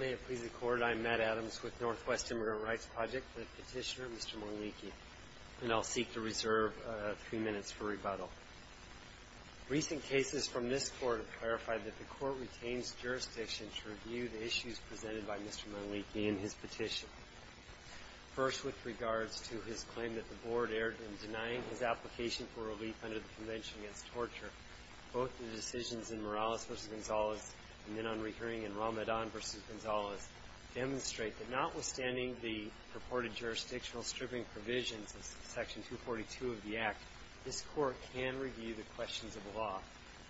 May it please the Court, I am Matt Adams with Northwest Immigrant Rights Project, the Petitioner Mr. Manliki, and I will seek to reserve three minutes for rebuttal. Recent cases from this Court have clarified that the Court retains jurisdiction to review the issues presented by Mr. Manliki in his petition. First with regards to his claim that the Board erred in denying his application for relief under the Convention Against Torture, both the decisions in Morales v. Gonzales and then on recurring in Ramadan v. Gonzales demonstrate that notwithstanding the purported jurisdictional stripping provisions of Section 242 of the Act, this Court can review the questions of law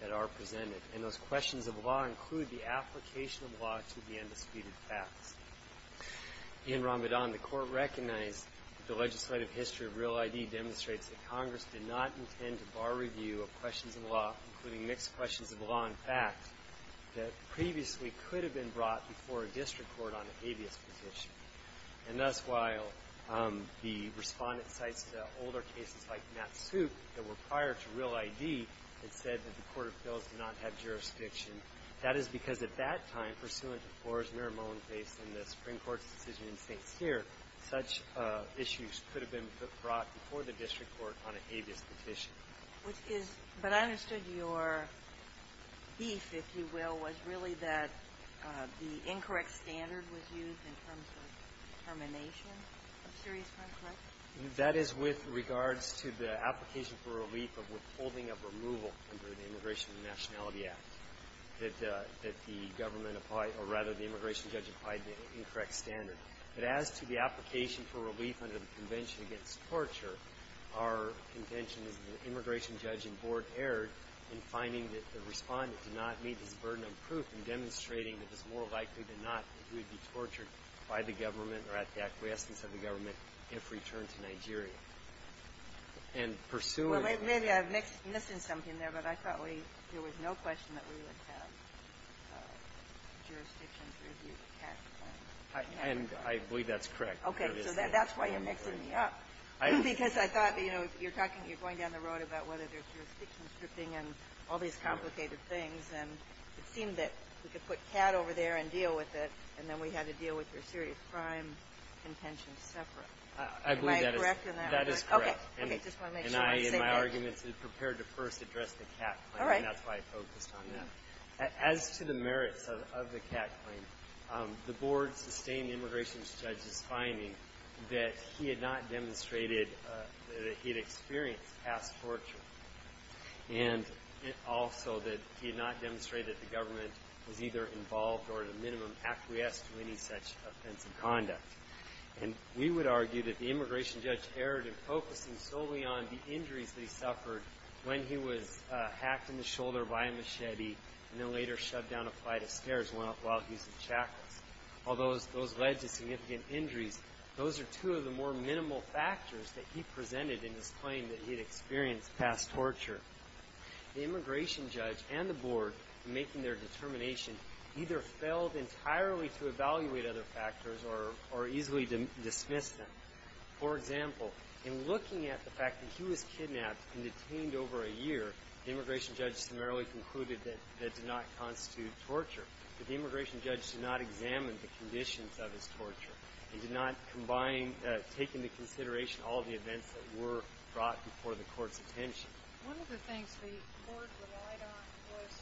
that are presented, and those questions of law include the application of law to the undisputed facts. In Ramadan, the Court recognized that the legislative history of Real ID demonstrates that Congress did not intend to bar review of questions of law, including mixed questions of law and fact, that previously could have been brought before a district court on a habeas petition. And thus while the Respondent cites the older cases like Matt's suit that were prior to Real ID that said that the Court of Appeals did not have jurisdiction, that is because at that time, pursuant to Flores v. Merrimon, based on the Supreme Court's decision in St. Louis, the Court did not have jurisdiction to bring a district court on a habeas petition. But I understood your beef, if you will, was really that the incorrect standard was used in terms of termination of serious crime, correct? That is with regards to the application for relief of withholding of removal under the Immigration and Nationality Act that the government applied, or rather the immigration judge applied the incorrect standard. But as to the application for relief under the Convention against Torture, our contention is that the immigration judge and board erred in finding that the Respondent did not meet his burden of proof in demonstrating that it was more likely than not that he would be tortured by the government or at the acquiescence of the government if returned to Nigeria. And pursuant to the Real ID law, the Court did not have jurisdiction to bring a district court on a habeas petition. And I believe that's correct. Okay. So that's why you're mixing me up. Because I thought, you know, you're talking, you're going down the road about whether there's jurisdiction stripping and all these complicated things. And it seemed that we could put CAD over there and deal with it, and then we had to deal with your serious crime contention separate. Am I correct in that regard? I believe that is correct. Okay. Okay. Just want to make sure I'm saying that. And I, in my arguments, prepared to first address the CAD claim. All right. And that's why I focused on that. As to the merits of the CAD claim, the Board sustained the immigration judge's finding that he had not demonstrated that he had experienced past torture. And also that he had not demonstrated that the government was either involved or at a minimum acquiesced to any such offensive conduct. And we would argue that the immigration judge erred in focusing solely on the injuries that he suffered when he was hacked in the shoulder by a machete and then later shoved down a flight of stairs while he was in shackles. Although those led to significant injuries, those are two of the more minimal factors that he presented in his claim that he had experienced past torture. The immigration judge and the Board, in making their determination, either failed entirely to evaluate other factors or easily dismissed them. For example, in looking at the fact that he was kidnapped and detained over a year, the immigration judge summarily concluded that that did not constitute torture. But the immigration judge did not examine the conditions of his torture and did not combine, take into consideration all the events that were brought before the court's attention. One of the things the Board relied on was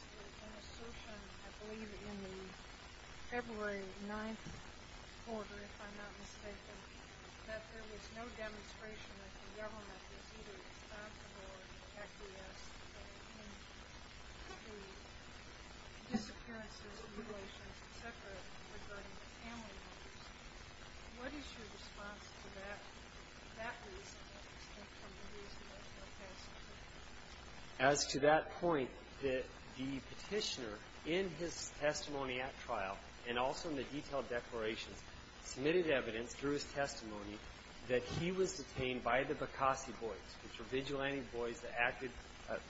an assertion, I believe, in the February 9th quarter, if I'm not mistaken, that there was no demonstration that the government was either responsible or acquiesced in the disappearances, mutilations, etc. regarding the family members. What is your response to that, that reason, as opposed to the reason of the past torture? The court, in the February 9th quarter, and also in the detailed declarations, submitted evidence through his testimony that he was detained by the Bokasi Boys, which were vigilante boys that acted,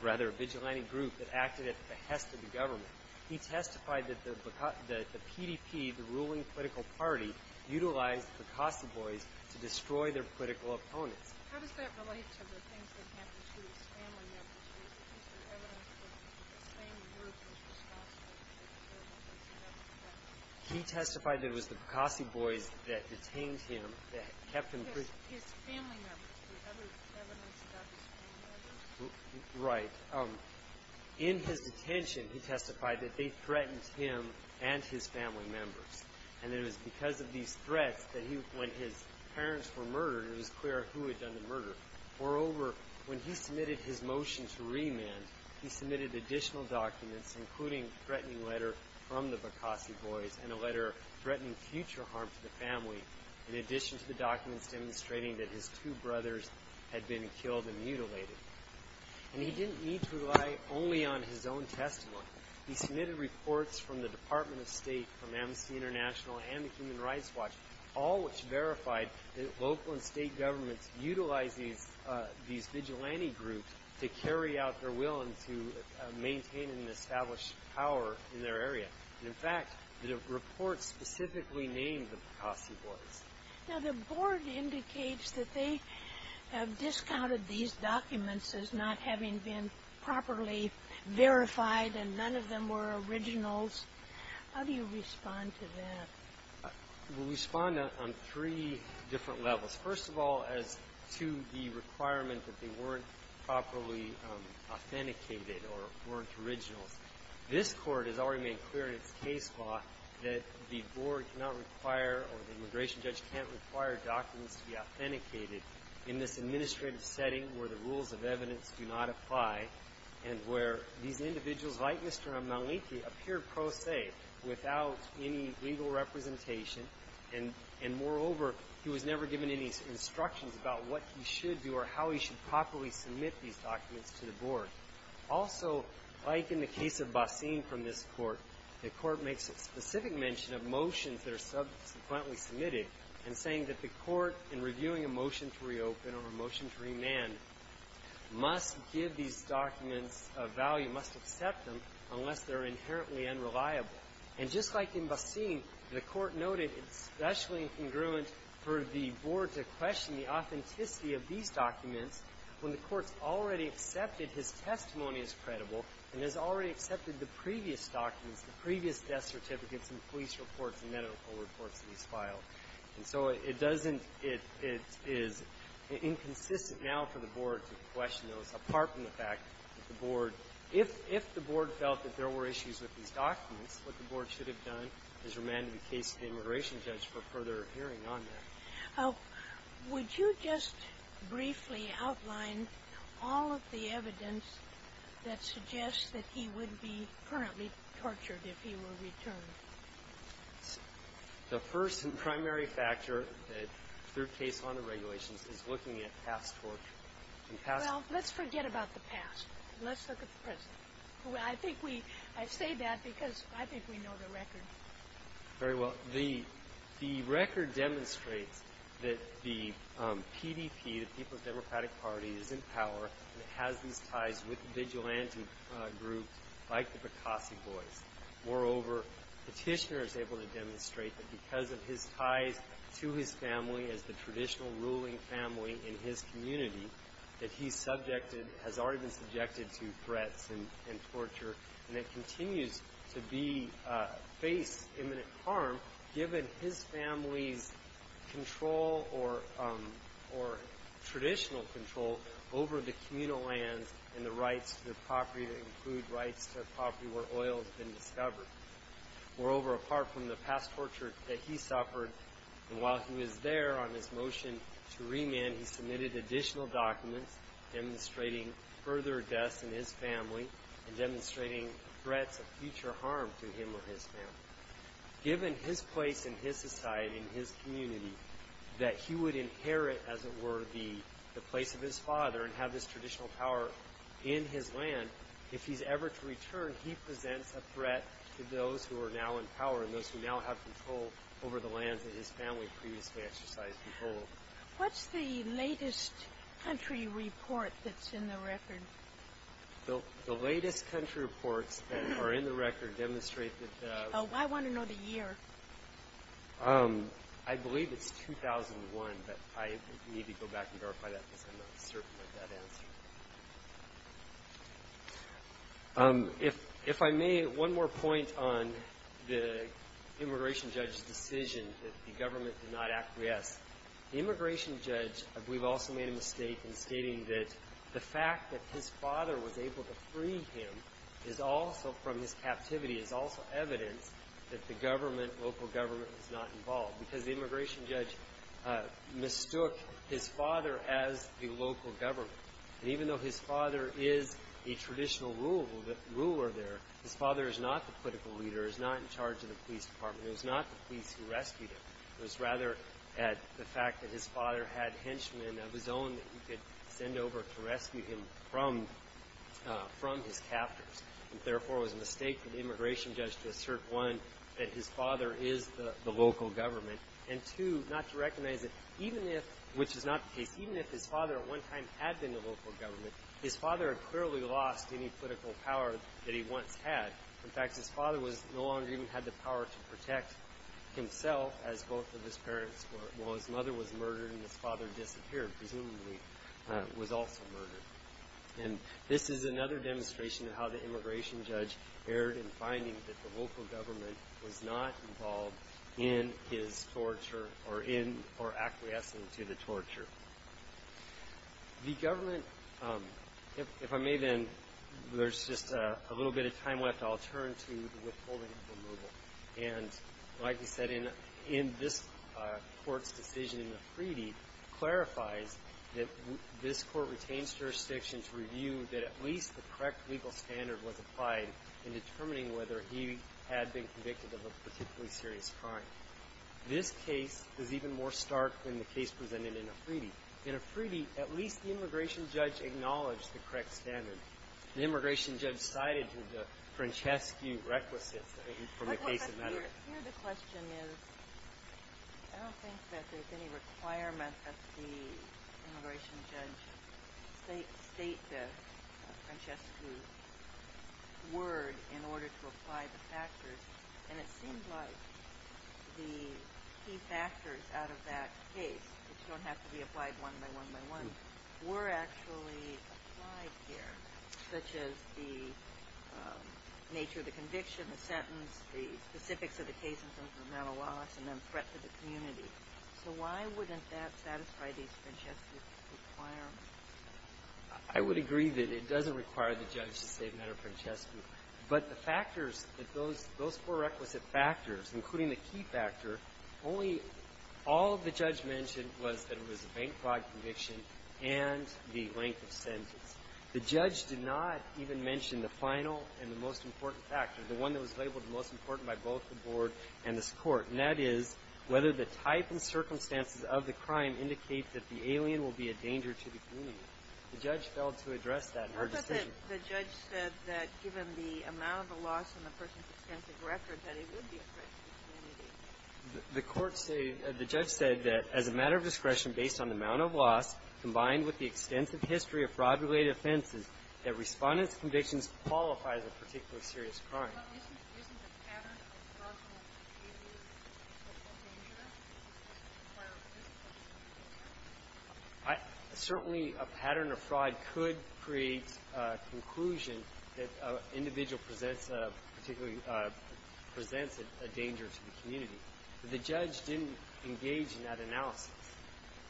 rather, a vigilante group that acted at the behest of the government. He testified that the PDP, the ruling political party, utilized the Bokasi Boys to destroy their political opponents. How does that relate to the things that happened to his family members? Is there evidence that the same group was responsible for the killings of his family members? He testified that it was the Bokasi Boys that detained him, that kept him free. His family members. Was there evidence about his family members? Right. In his detention, he testified that they threatened him and his family members. And it was because of these threats that he, when his parents were murdered, it was clear who had done the murder. Moreover, when he submitted his motion to remand, he submitted additional documents, including a threatening letter from the Bokasi Boys and a letter threatening future harm to the family, in addition to the documents demonstrating that his two brothers had been killed and mutilated. And he didn't need to rely only on his own testimony. He submitted reports from the Department of State, from Amnesty International, and the these vigilante groups to carry out their will and to maintain and establish power in their area. And, in fact, the reports specifically named the Bokasi Boys. Now, the Board indicates that they have discounted these documents as not having been properly verified and none of them were originals. How do you respond to that? We respond on three different levels. First of all, as to the requirement that they weren't properly authenticated or weren't originals. This Court has already made clear in its case law that the Board cannot require or the immigration judge can't require documents to be authenticated in this administrative setting where the rules of evidence do not apply and where these individuals, like Mr. Maliki, appeared pro se, without any legal representation. And, moreover, he was never given any instructions about what he should do or how he should properly submit these documents to the Board. Also, like in the case of Bassim from this Court, the Court makes specific mention of motions that are subsequently submitted and saying that the Court, in reviewing a motion to reopen or a motion to remand, must give these documents a value, must accept them unless they're inherently unreliable. And just like in Bassim, the Court noted it's especially incongruent for the Board to question the authenticity of these documents when the Court's already accepted his testimony as credible and has already accepted the previous documents, the previous death certificates and police reports and medical reports that he's filed. And so it doesn't – it is inconsistent now for the Board to question those, apart from the fact that the Board – if the Board felt that there were issues with these documents, that the Board should have done, has remanded the case to the immigration judge for further hearing on them. Would you just briefly outline all of the evidence that suggests that he would be currently tortured if he were returned? The first and primary factor that, through case law and the regulations, is looking at past torture. Well, let's forget about the past. Let's look at the present. Well, I think we – I say that because I think we know the record. Very well. The – the record demonstrates that the PDP, the People's Democratic Party, is in power and has these ties with vigilante groups like the Picasso Boys. Moreover, Petitioner is able to demonstrate that because of his ties to his family as the traditional ruling family in his community, that he's subjected – has already been subjected to threats and – and torture, and that continues to be – face imminent harm, given his family's control or – or traditional control over the communal lands and the rights to the property that include rights to a property where oil has been discovered. Moreover, apart from the past torture that he suffered, and while he was there on his motion to remand, he submitted additional documents demonstrating further deaths in his family and demonstrating threats of future harm to him or his family. Given his place in his society and his community, that he would inherit, as it were, the – the place of his father and have this traditional power in his land, if he's ever to return, he presents a threat to those who are now in power and those who now have control over the lands that his family previously exercised control. What's the latest country report that's in the record? The – the latest country reports that are in the record demonstrate that – Oh, I want to know the year. I believe it's 2001, but I need to go back and verify that because I'm not certain of that answer. If – if I may, one more point on the immigration judge's decision that the government did not acquiesce. The immigration judge, I believe, also made a mistake in stating that the fact that his father was able to free him is also, from his captivity, is also evidence that the government, local government, was not involved because the immigration judge mistook his father as a local government. And even though his father is a traditional ruler there, his father is not the political leader, is not in charge of the police department. It was not the police who rescued him. It was rather the fact that his father had henchmen of his own that he could send over to rescue him from – from his captors. And therefore, it was a mistake for the immigration judge to assert, one, that his father is the local government, and two, not to recognize that even if – which is not the case – even if his father at one time had been the local government, his father had clearly lost any political power that he once had. In fact, his father was – no longer even had the power to protect himself, as both of his parents were, while his mother was murdered and his father disappeared, presumably was also murdered. And this is another demonstration of how the immigration judge erred in finding that the The government – if I may, then, there's just a little bit of time left. I'll turn to the withholding of the modal. And like he said, in this court's decision in the treaty, clarifies that this court retains jurisdiction to review that at least the correct legal standard was applied in determining whether he had been convicted of a particularly serious crime. This case is even more stark than the case presented in a treaty. In a treaty, at least the immigration judge acknowledged the correct standard. The immigration judge sided with the Francescu requisites from the case of modal. Here the question is, I don't think that there's any requirement that the immigration judge state the Francescu word in order to apply the factors. And it seems like the key factors out of that case, which don't have to be applied one by one by one, were actually applied here, such as the nature of the conviction, the sentence, the specifics of the case in terms of the mental loss, and then threat to the community. So why wouldn't that satisfy these Francescu requirements? I would agree that it doesn't require the judge to say, no, Francescu. But the factors that those four requisite factors, including the key factor, only all the judge mentioned was that it was a bank fraud conviction and the length of sentence. The judge did not even mention the final and the most important factor, the one that was labeled the most important by both the Board and this Court, and that is whether the type and circumstances of the crime indicate that the alien will be a danger to the community. The judge failed to address that in our decision. The judge said that given the amount of the loss and the person's extensive record, that it would be a threat to the community. The court said the judge said that as a matter of discretion based on the amount of loss combined with the extensive history of fraud-related offenses, that Respondent's convictions qualify as a particularly serious crime. Isn't the pattern of fraudulent behavior a potential danger? Certainly, a pattern of fraud could create a conclusion that an individual presents a particularly, presents a danger to the community. But the judge didn't engage in that analysis.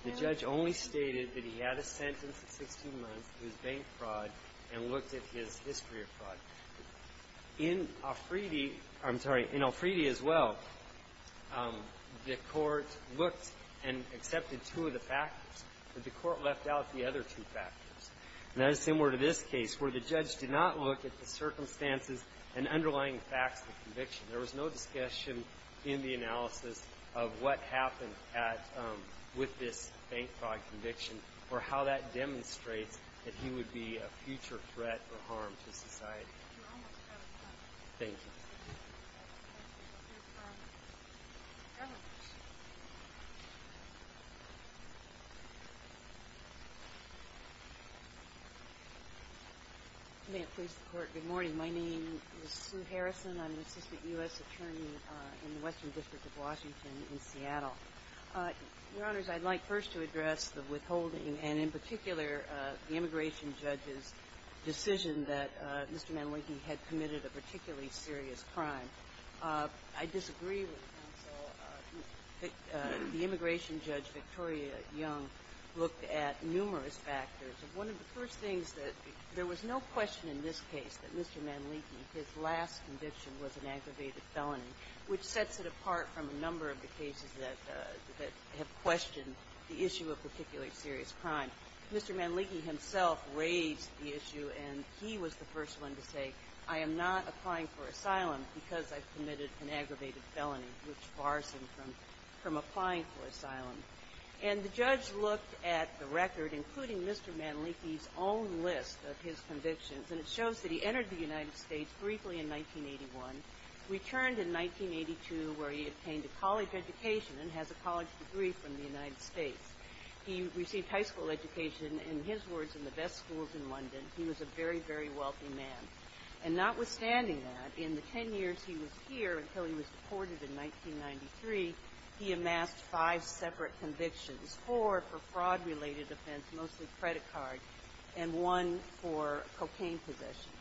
The judge only stated that he had a sentence of 16 months, it was bank fraud, and looked at his history of fraud. In Alfredi, I'm sorry, in Alfredi as well, the Court looked and accepted two of the factors, but the Court left out the other two factors. And that is similar to this case, where the judge did not look at the circumstances and underlying facts of conviction. There was no discussion in the analysis of what happened at, with this bank fraud conviction or how that demonstrates that he would be a future threat or harm to society. Thank you. May it please the Court, good morning. My name is Sue Harrison. I'm an assistant U.S. attorney in the Western District of Washington in Seattle. Your Honors, I'd like first to address the withholding and, in particular, the immigration judge's decision that Mr. Manleki had committed a particularly serious crime. I disagree with counsel. The immigration judge, Victoria Young, looked at numerous factors. One of the first things that there was no question in this case that Mr. Manleki, his last conviction was an aggravated felony, which sets it apart from a number of the cases that have questioned the issue of particularly serious crime. Mr. Manleki himself raised the issue, and he was the first one to say, I am not applying for asylum because I've committed an aggravated felony, which bars him from applying for asylum. And the judge looked at the record, including Mr. Manleki's own list of his convictions, and it shows that he entered the United States briefly in 1981, returned in 1982, where he obtained a college education and has a college degree from the United States. He received high school education, in his words, in the best schools in London. He was a very, very wealthy man. And notwithstanding that, in the ten years he was here until he was deported in 1993, he amassed five separate convictions, four for fraud-related offense, mostly credit card, and one for cocaine possession.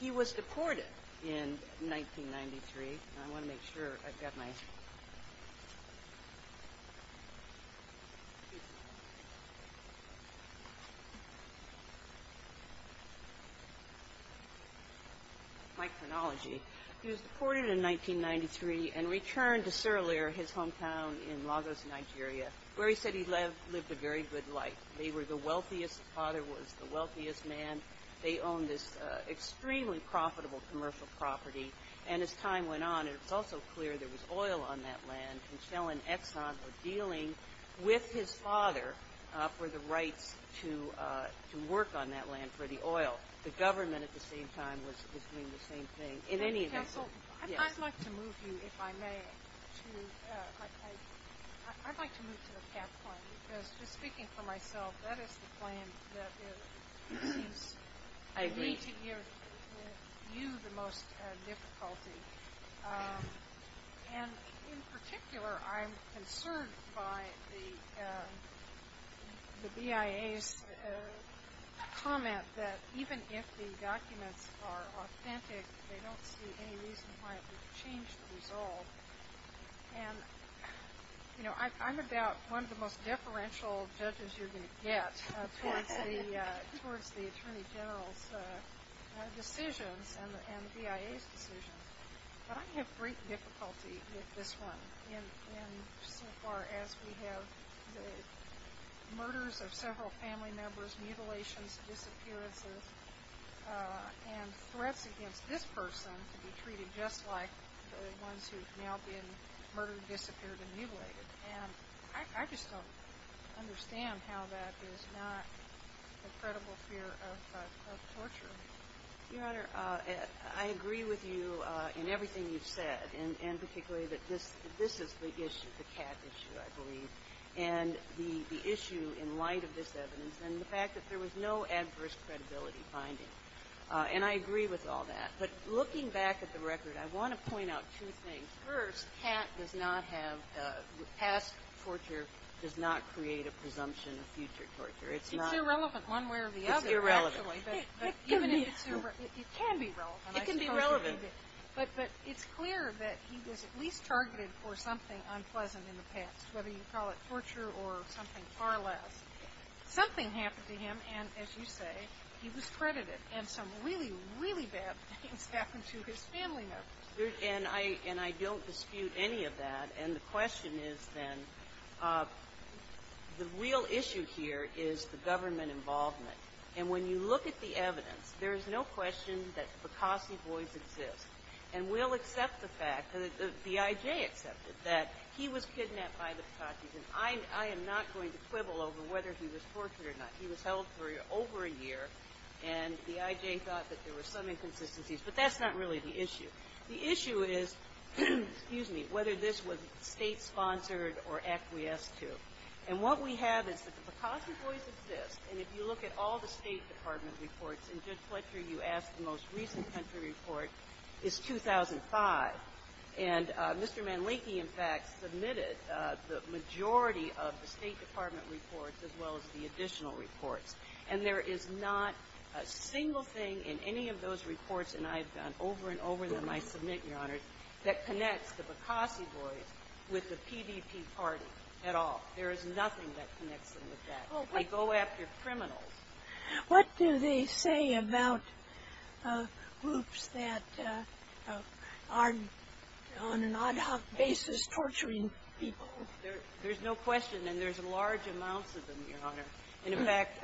He was deported in 1993. And I want to make sure I've got my – my chronology. He was deported in 1993 and returned to Sirleer, his hometown in Lagos, Nigeria, where he said he lived a very good life. They were the wealthiest – his father was the wealthiest man. They owned this extremely profitable commercial property. And as time went on, it was also clear there was oil on that land, and Kjell and Exxon were dealing with his father for the rights to work on that land for the oil. The government at the same time was doing the same thing. In any event – Counsel, I'd like to move you, if I may, to – I'd like to move to the cap plan, because just speaking for myself, that is the plan that it seems – I agree. – gives you the most difficulty. And in particular, I'm concerned by the BIA's comment that even if the documents are authentic, they don't see any reason why it would change the result. And, you know, I'm about one of the most deferential judges you're going to get towards the Attorney General's decisions and the BIA's decisions. But I have great difficulty with this one in so far as we have the murders of several family members, mutilations, disappearances, and threats against this person to be treated just like the ones who have now been murdered, disappeared, and mutilated. And I just don't understand how that is not the credible fear of torture. Your Honor, I agree with you in everything you've said, and particularly that this is the issue, the cat issue, I believe, and the issue in light of this evidence, and the fact that there was no adverse credibility finding. And I agree with all that. But looking back at the record, I want to point out two things. First, the past torture does not create a presumption of future torture. It's irrelevant one way or the other, actually. It's irrelevant. It can be relevant. It can be relevant. But it's clear that he was at least targeted for something unpleasant in the past, whether you call it torture or something far less. Something happened to him, and as you say, he was credited. And some really, really bad things happened to his family members. And I don't dispute any of that. And the question is, then, the real issue here is the government involvement. And when you look at the evidence, there is no question that the Picasso boys exist. And we'll accept the fact, the I.J. accepted, that he was kidnapped by the Picassos. And I am not going to quibble over whether he was tortured or not. He was held for over a year, and the I.J. thought that there were some inconsistencies. But that's not really the issue. The issue is, excuse me, whether this was State-sponsored or acquiesced to. And what we have is that the Picasso boys exist. And if you look at all the State Department reports, and Judge Fletcher, you asked the most recent country report, is 2005. And Mr. Manleki, in fact, submitted the majority of the State Department reports as well as the additional reports. And there is not a single thing in any of those reports, and I've done over and over them, I submit, Your Honor, that connects the Picasso boys with the PVP party at all. There is nothing that connects them with that. I go after criminals. What do they say about groups that are, on an ad hoc basis, torturing people? There's no question. And there's large amounts of them, Your Honor. And, in fact,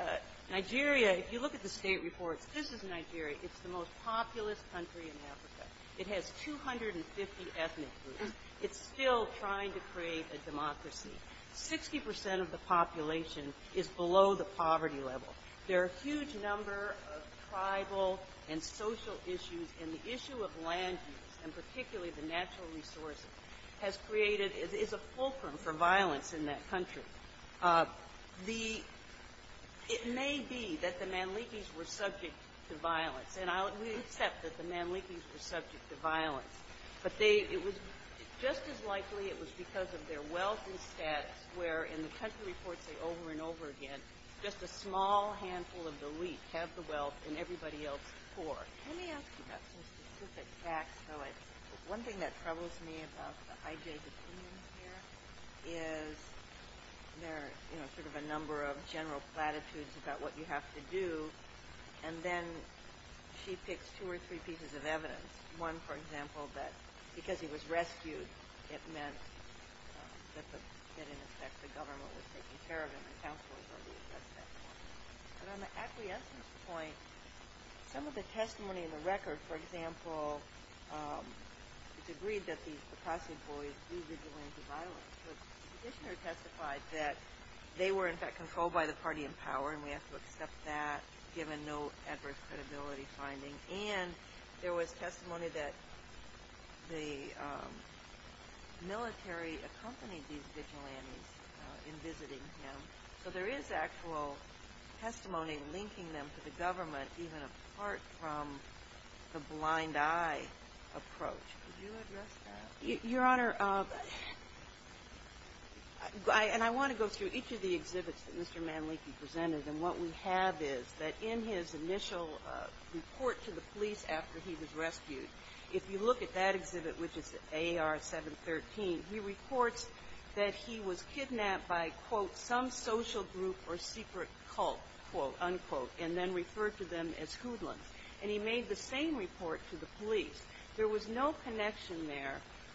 Nigeria, if you look at the State reports, this is Nigeria. It's the most populous country in Africa. It has 250 ethnic groups. It's still trying to create a democracy. Sixty percent of the population is below the poverty level. There are a huge number of tribal and social issues, and the issue of land use, and particularly the natural resources, has created as a fulcrum for violence in that country. It may be that the Manlikis were subject to violence. And we accept that the Manlikis were subject to violence. But it was just as likely it was because of their wealth and status, where in the country reports over and over again, just a small handful of the elite have the wealth and everybody else poor. Let me ask you about some specific facts, though. One thing that troubles me about the I.J.'s opinion here is there are sort of a number of general platitudes about what you have to do, and then she picks two or three pieces of evidence. One, for example, that because he was rescued, it meant that, in effect, the government was taking care of him and the council was already assessed at that point. But on the acquiescence point, some of the testimony in the record, for example, it's agreed that the Apache boys do vigilante violence. But the petitioner testified that they were, in fact, controlled by the party in power, and we have to accept that, given no adverse credibility finding. And there was testimony that the military accompanied these vigilantes in visiting him. So there is actual testimony linking them to the government, even apart from the blind eye approach. Could you address that? Your Honor, and I want to go through each of the exhibits that Mr. Manleki presented, and what we have is that in his initial report to the police after he was rescued, if you look at that exhibit, which is the A.R. 713, he reports that he was kidnapped by, quote, some social group or secret cult, quote, unquote, and then referred to them as hoodlums. And he made the same report to the police. There was no connection there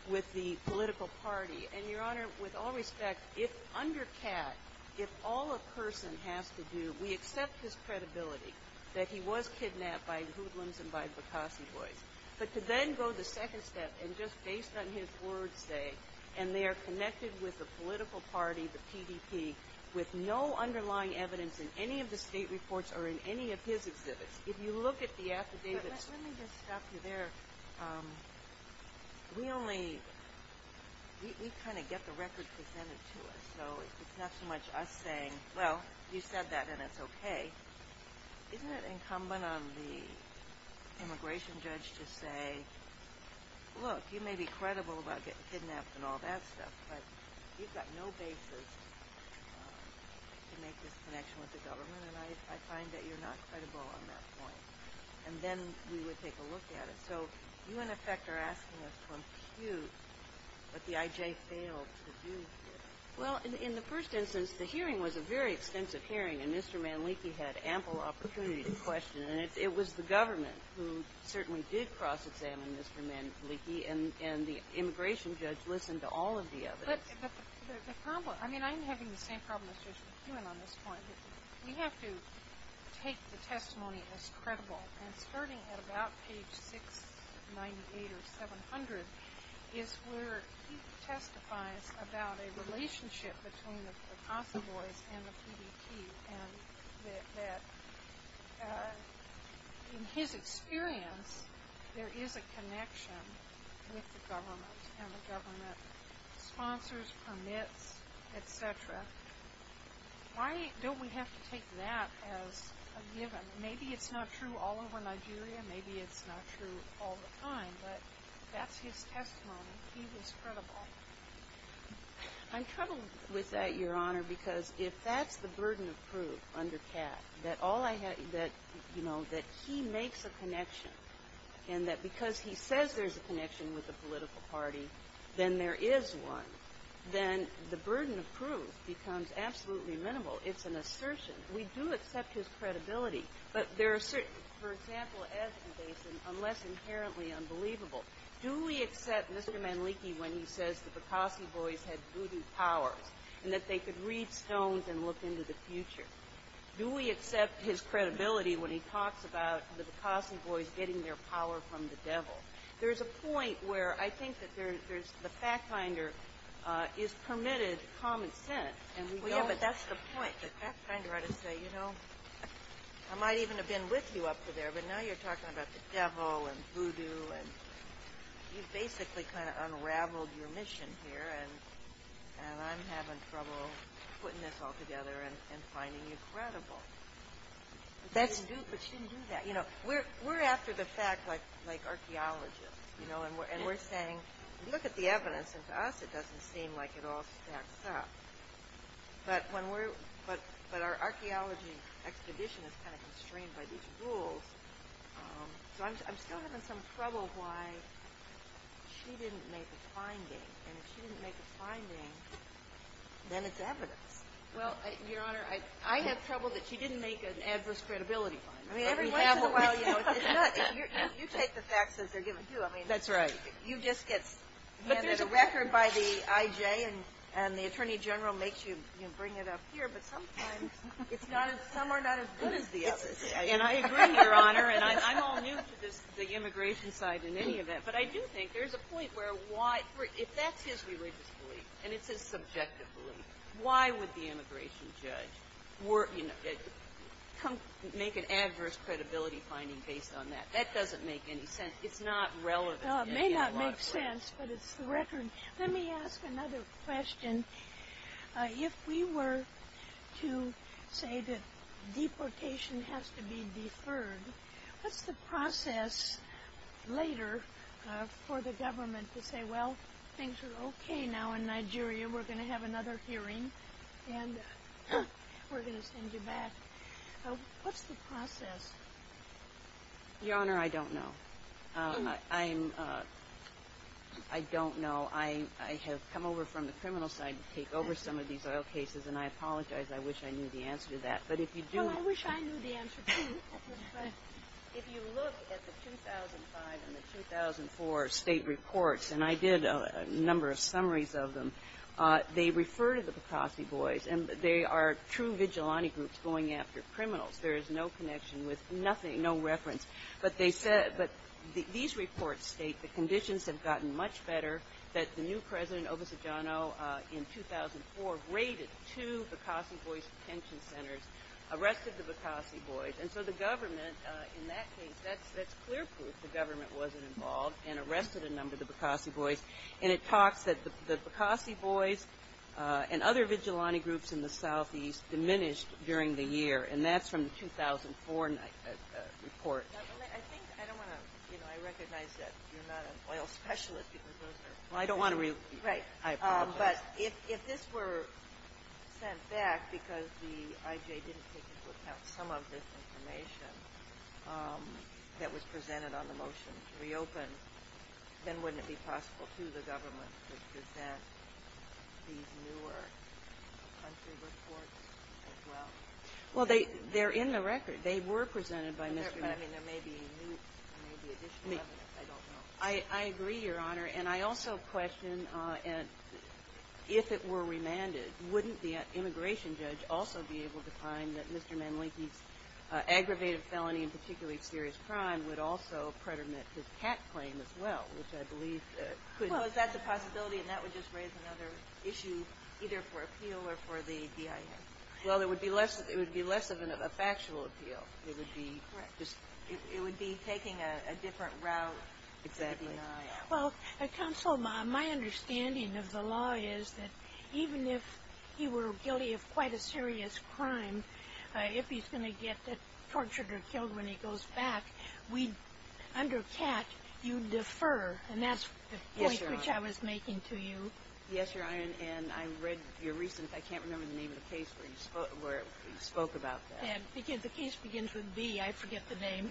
with the political party. And, Your Honor, with all respect, if under CAT, if all a person has to do, we accept his credibility that he was kidnapped by hoodlums and by Bokasi boys. But to then go the second step and just based on his words, say, and they are connected with the political party, the PDP, with no underlying evidence in any of the state reports or in any of his exhibits. If you look at the affidavits. Let me just stop you there. We only, we kind of get the record presented to us, so it's not so much us saying, well, you said that and it's okay. Isn't it incumbent on the immigration judge to say, look, you may be credible about getting this information, but you've got no basis to make this connection with the government. And I find that you're not credible on that point. And then we would take a look at it. So you, in effect, are asking us to impute what the IJ failed to do here. Well, in the first instance, the hearing was a very extensive hearing, and Mr. Manleiki had ample opportunity to question. And it was the government who certainly did cross-examine Mr. Manleiki, and the immigration judge listened to all of the evidence. But the problem, I mean, I'm having the same problem as Judge McEwen on this point. We have to take the testimony as credible. And starting at about page 698 or 700 is where he testifies about a relationship between the Casa Boys and the PDT, and that in his experience, there is a connection with the government, and the government sponsors, permits, etc. Why don't we have to take that as a given? Maybe it's not true all over Nigeria. Maybe it's not true all the time. But that's his testimony. He was credible. I'm troubled with that, Your Honor, because if that's the burden of proof under Cass, that all I have to do, you know, that he makes a connection, and that because he says there's a connection with the political party, then there is one, then the burden of proof becomes absolutely minimal. It's an assertion. We do accept his credibility. But there are certain, for example, as in Basin, unless inherently unbelievable, do we accept Mr. Manleki when he says the Bikasi Boys had voodoo powers and that they could read stones and look into the future? Do we accept his credibility when he talks about the Bikasi Boys getting their power from the devil? There's a point where I think that there's the fact finder is permitted common sense, and we don't. Well, yeah, but that's the point. The fact finder ought to say, you know, I might even have been with you up to there, but now you're talking about the devil and voodoo, and you've basically kind of unraveled your mission here, and I'm having trouble putting this all together and finding you credible. But you didn't do that. You know, we're after the fact like archaeologists, you know, and we're saying look at the evidence, and to us it doesn't seem like it all stacks up. But our archaeology expedition is kind of constrained by these rules. So I'm still having some trouble why she didn't make a finding, and if she didn't make a finding, then it's evidence. Well, Your Honor, I have trouble that she didn't make an adverse credibility finding. I mean, every once in a while, you know, it's not you take the facts as they're given to you. That's right. You just get handed a record by the IJ, and the Attorney General makes you, you know, bring it up here, but sometimes some are not as good as the others. And I agree, Your Honor, and I'm all new to the immigration side in any event, but I do think there's a point where if that's his religious belief, and it's his subjective belief, why would the immigration judge make an adverse credibility finding based on that? That doesn't make any sense. It's not relevant. Well, it may not make sense, but it's the record. Let me ask another question. If we were to say that deportation has to be deferred, what's the process later for the government to say, well, things are okay now in Nigeria, we're going to have another hearing, and we're going to send you back? What's the process? Your Honor, I don't know. I don't know. I have come over from the criminal side to take over some of these oil cases, and I apologize. I wish I knew the answer to that. Well, I wish I knew the answer, too. If you look at the 2005 and the 2004 state reports, and I did a number of summaries of them, they refer to the Pakossi boys, and they are true vigilante groups going after criminals. There is no connection with nothing, no reference. But these reports state the conditions have gotten much better, that the new President Obasanjano in 2004 raided two Pakossi boys detention centers, arrested the Pakossi boys. And so the government in that case, that's clear proof the government wasn't involved and arrested a number of the Pakossi boys. And it talks that the Pakossi boys and other vigilante groups in the southeast diminished during the year. And that's from the 2004 report. I think I don't want to, you know, I recognize that you're not an oil specialist because those are. Well, I don't want to. Right. I apologize. But if this were sent back because the IJ didn't take into account some of this information that was presented on the motion to reopen, then wouldn't it be possible to the government to present these newer country reports as well? Well, they're in the record. They were presented by Mr. Manleki. I mean, there may be additional evidence. I don't know. I agree, Your Honor. And I also question if it were remanded, wouldn't the immigration judge also be able to find that Mr. Manleki's aggravated felony, and particularly serious crime, would also predominate his hack claim as well, which I believe could. Well, is that the possibility? And that would just raise another issue, either for appeal or for the DIA. Well, it would be less of a factual appeal. It would be taking a different route. Exactly. Well, Counsel, my understanding of the law is that even if he were guilty of quite a serious crime, if he's going to get tortured or killed when he goes back, under CAT, you defer. And that's the point which I was making to you. Yes, Your Honor. And I read your recent, I can't remember the name of the case where you spoke about that. The case begins with B. I forget the name.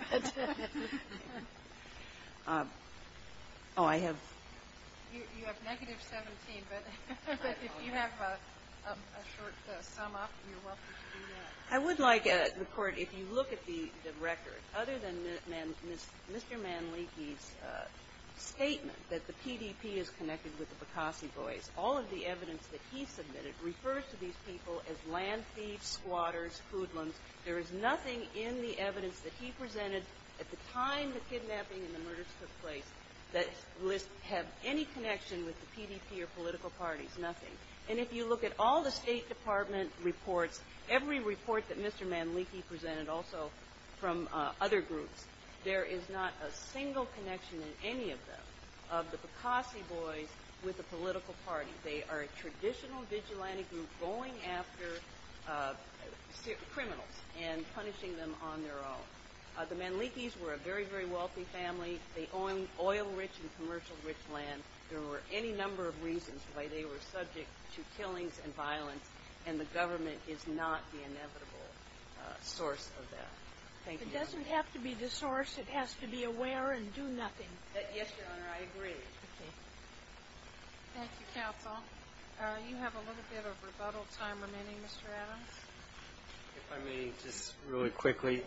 Oh, I have. You have negative 17, but if you have a short sum-up, you're welcome to do that. I would like the Court, if you look at the record, other than Mr. Manleki's statement that the PDP is connected with the Bokasi boys, all of the evidence that he submitted refers to these people as land thieves, squatters, hoodlums. There is nothing in the evidence that he presented at the time the kidnapping and the murders took place that lists have any connection with the PDP or political parties, nothing. And if you look at all the State Department reports, every report that Mr. Manleki presented also from other groups, there is not a single connection in any of them of the Bokasi boys with the political party. They are a traditional vigilante group going after criminals and punishing them on their own. The Manlekis were a very, very wealthy family. They owned oil-rich and commercial-rich land. There were any number of reasons why they were subject to killings and violence, and the government is not the inevitable source of that. Thank you, Your Honor. It doesn't have to be the source. It has to be aware and do nothing. Yes, Your Honor. I agree. Okay. Thank you, counsel. You have a little bit of rebuttal time remaining, Mr. Adams. If I may, just really quickly.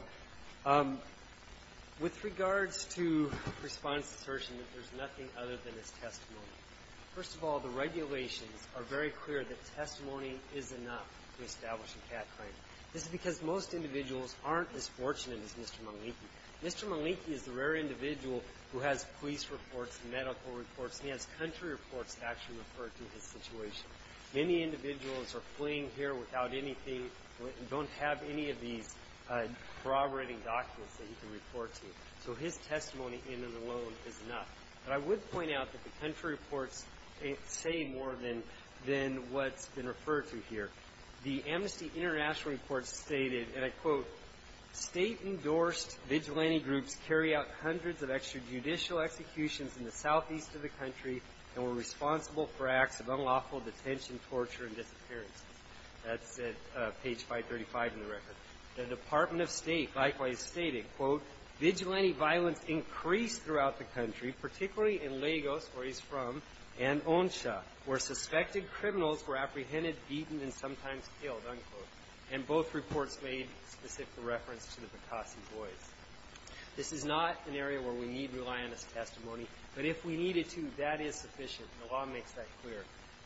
With regards to Respondent's assertion that there's nothing other than his testimony, first of all, the regulations are very clear that testimony is enough to establish a cat crime. This is because most individuals aren't as fortunate as Mr. Manleki. Mr. Manleki is the rare individual who has police reports, medical reports, and he has country reports that actually refer to his situation. Many individuals are fleeing here without anything, don't have any of these corroborating documents that he can report to. So his testimony in and alone is enough. But I would point out that the country reports say more than what's been referred to here. The Amnesty International report stated, and I quote, State-endorsed vigilante groups carry out hundreds of extrajudicial executions in the southeast of the country and were responsible for acts of unlawful detention, torture, and disappearance. That's at page 535 in the record. The Department of State likewise stated, quote, Vigilante violence increased throughout the country, particularly in Lagos, where he's from, and Onsha, where suspected criminals were apprehended, beaten, and sometimes killed, unquote. And both reports made specific reference to the Picasso boys. This is not an area where we need reliant testimony, but if we needed to, that is sufficient. The law makes that clear.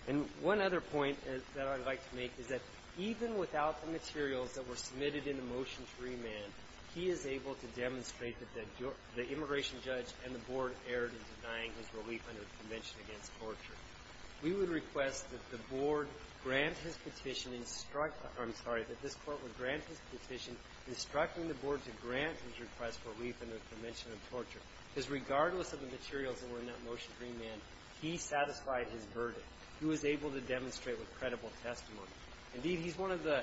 And one other point that I'd like to make is that even without the materials that were submitted in the motion to remand, he is able to demonstrate that the immigration judge and the board erred in denying his relief under the Convention Against Torture. We would request that the board grant his petition, instruct the court, I'm sorry, that this court would grant his petition instructing the board to grant his request for relief under the Convention Against Torture. Because regardless of the materials that were in that motion to remand, he satisfied his verdict. He was able to demonstrate with credible testimony. Indeed, he's one of the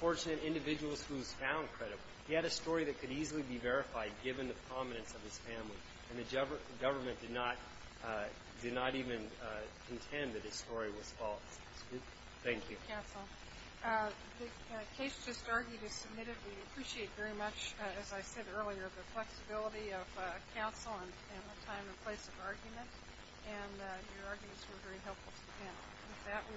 fortunate individuals who was found credible. He had a story that could easily be verified given the prominence of his family. And the government did not even contend that his story was false. Thank you. Counsel, the case just argued is submitted. We appreciate very much, as I said earlier, the flexibility of counsel and the time and place of argument. And your arguments were very helpful to the panel. With that, we return.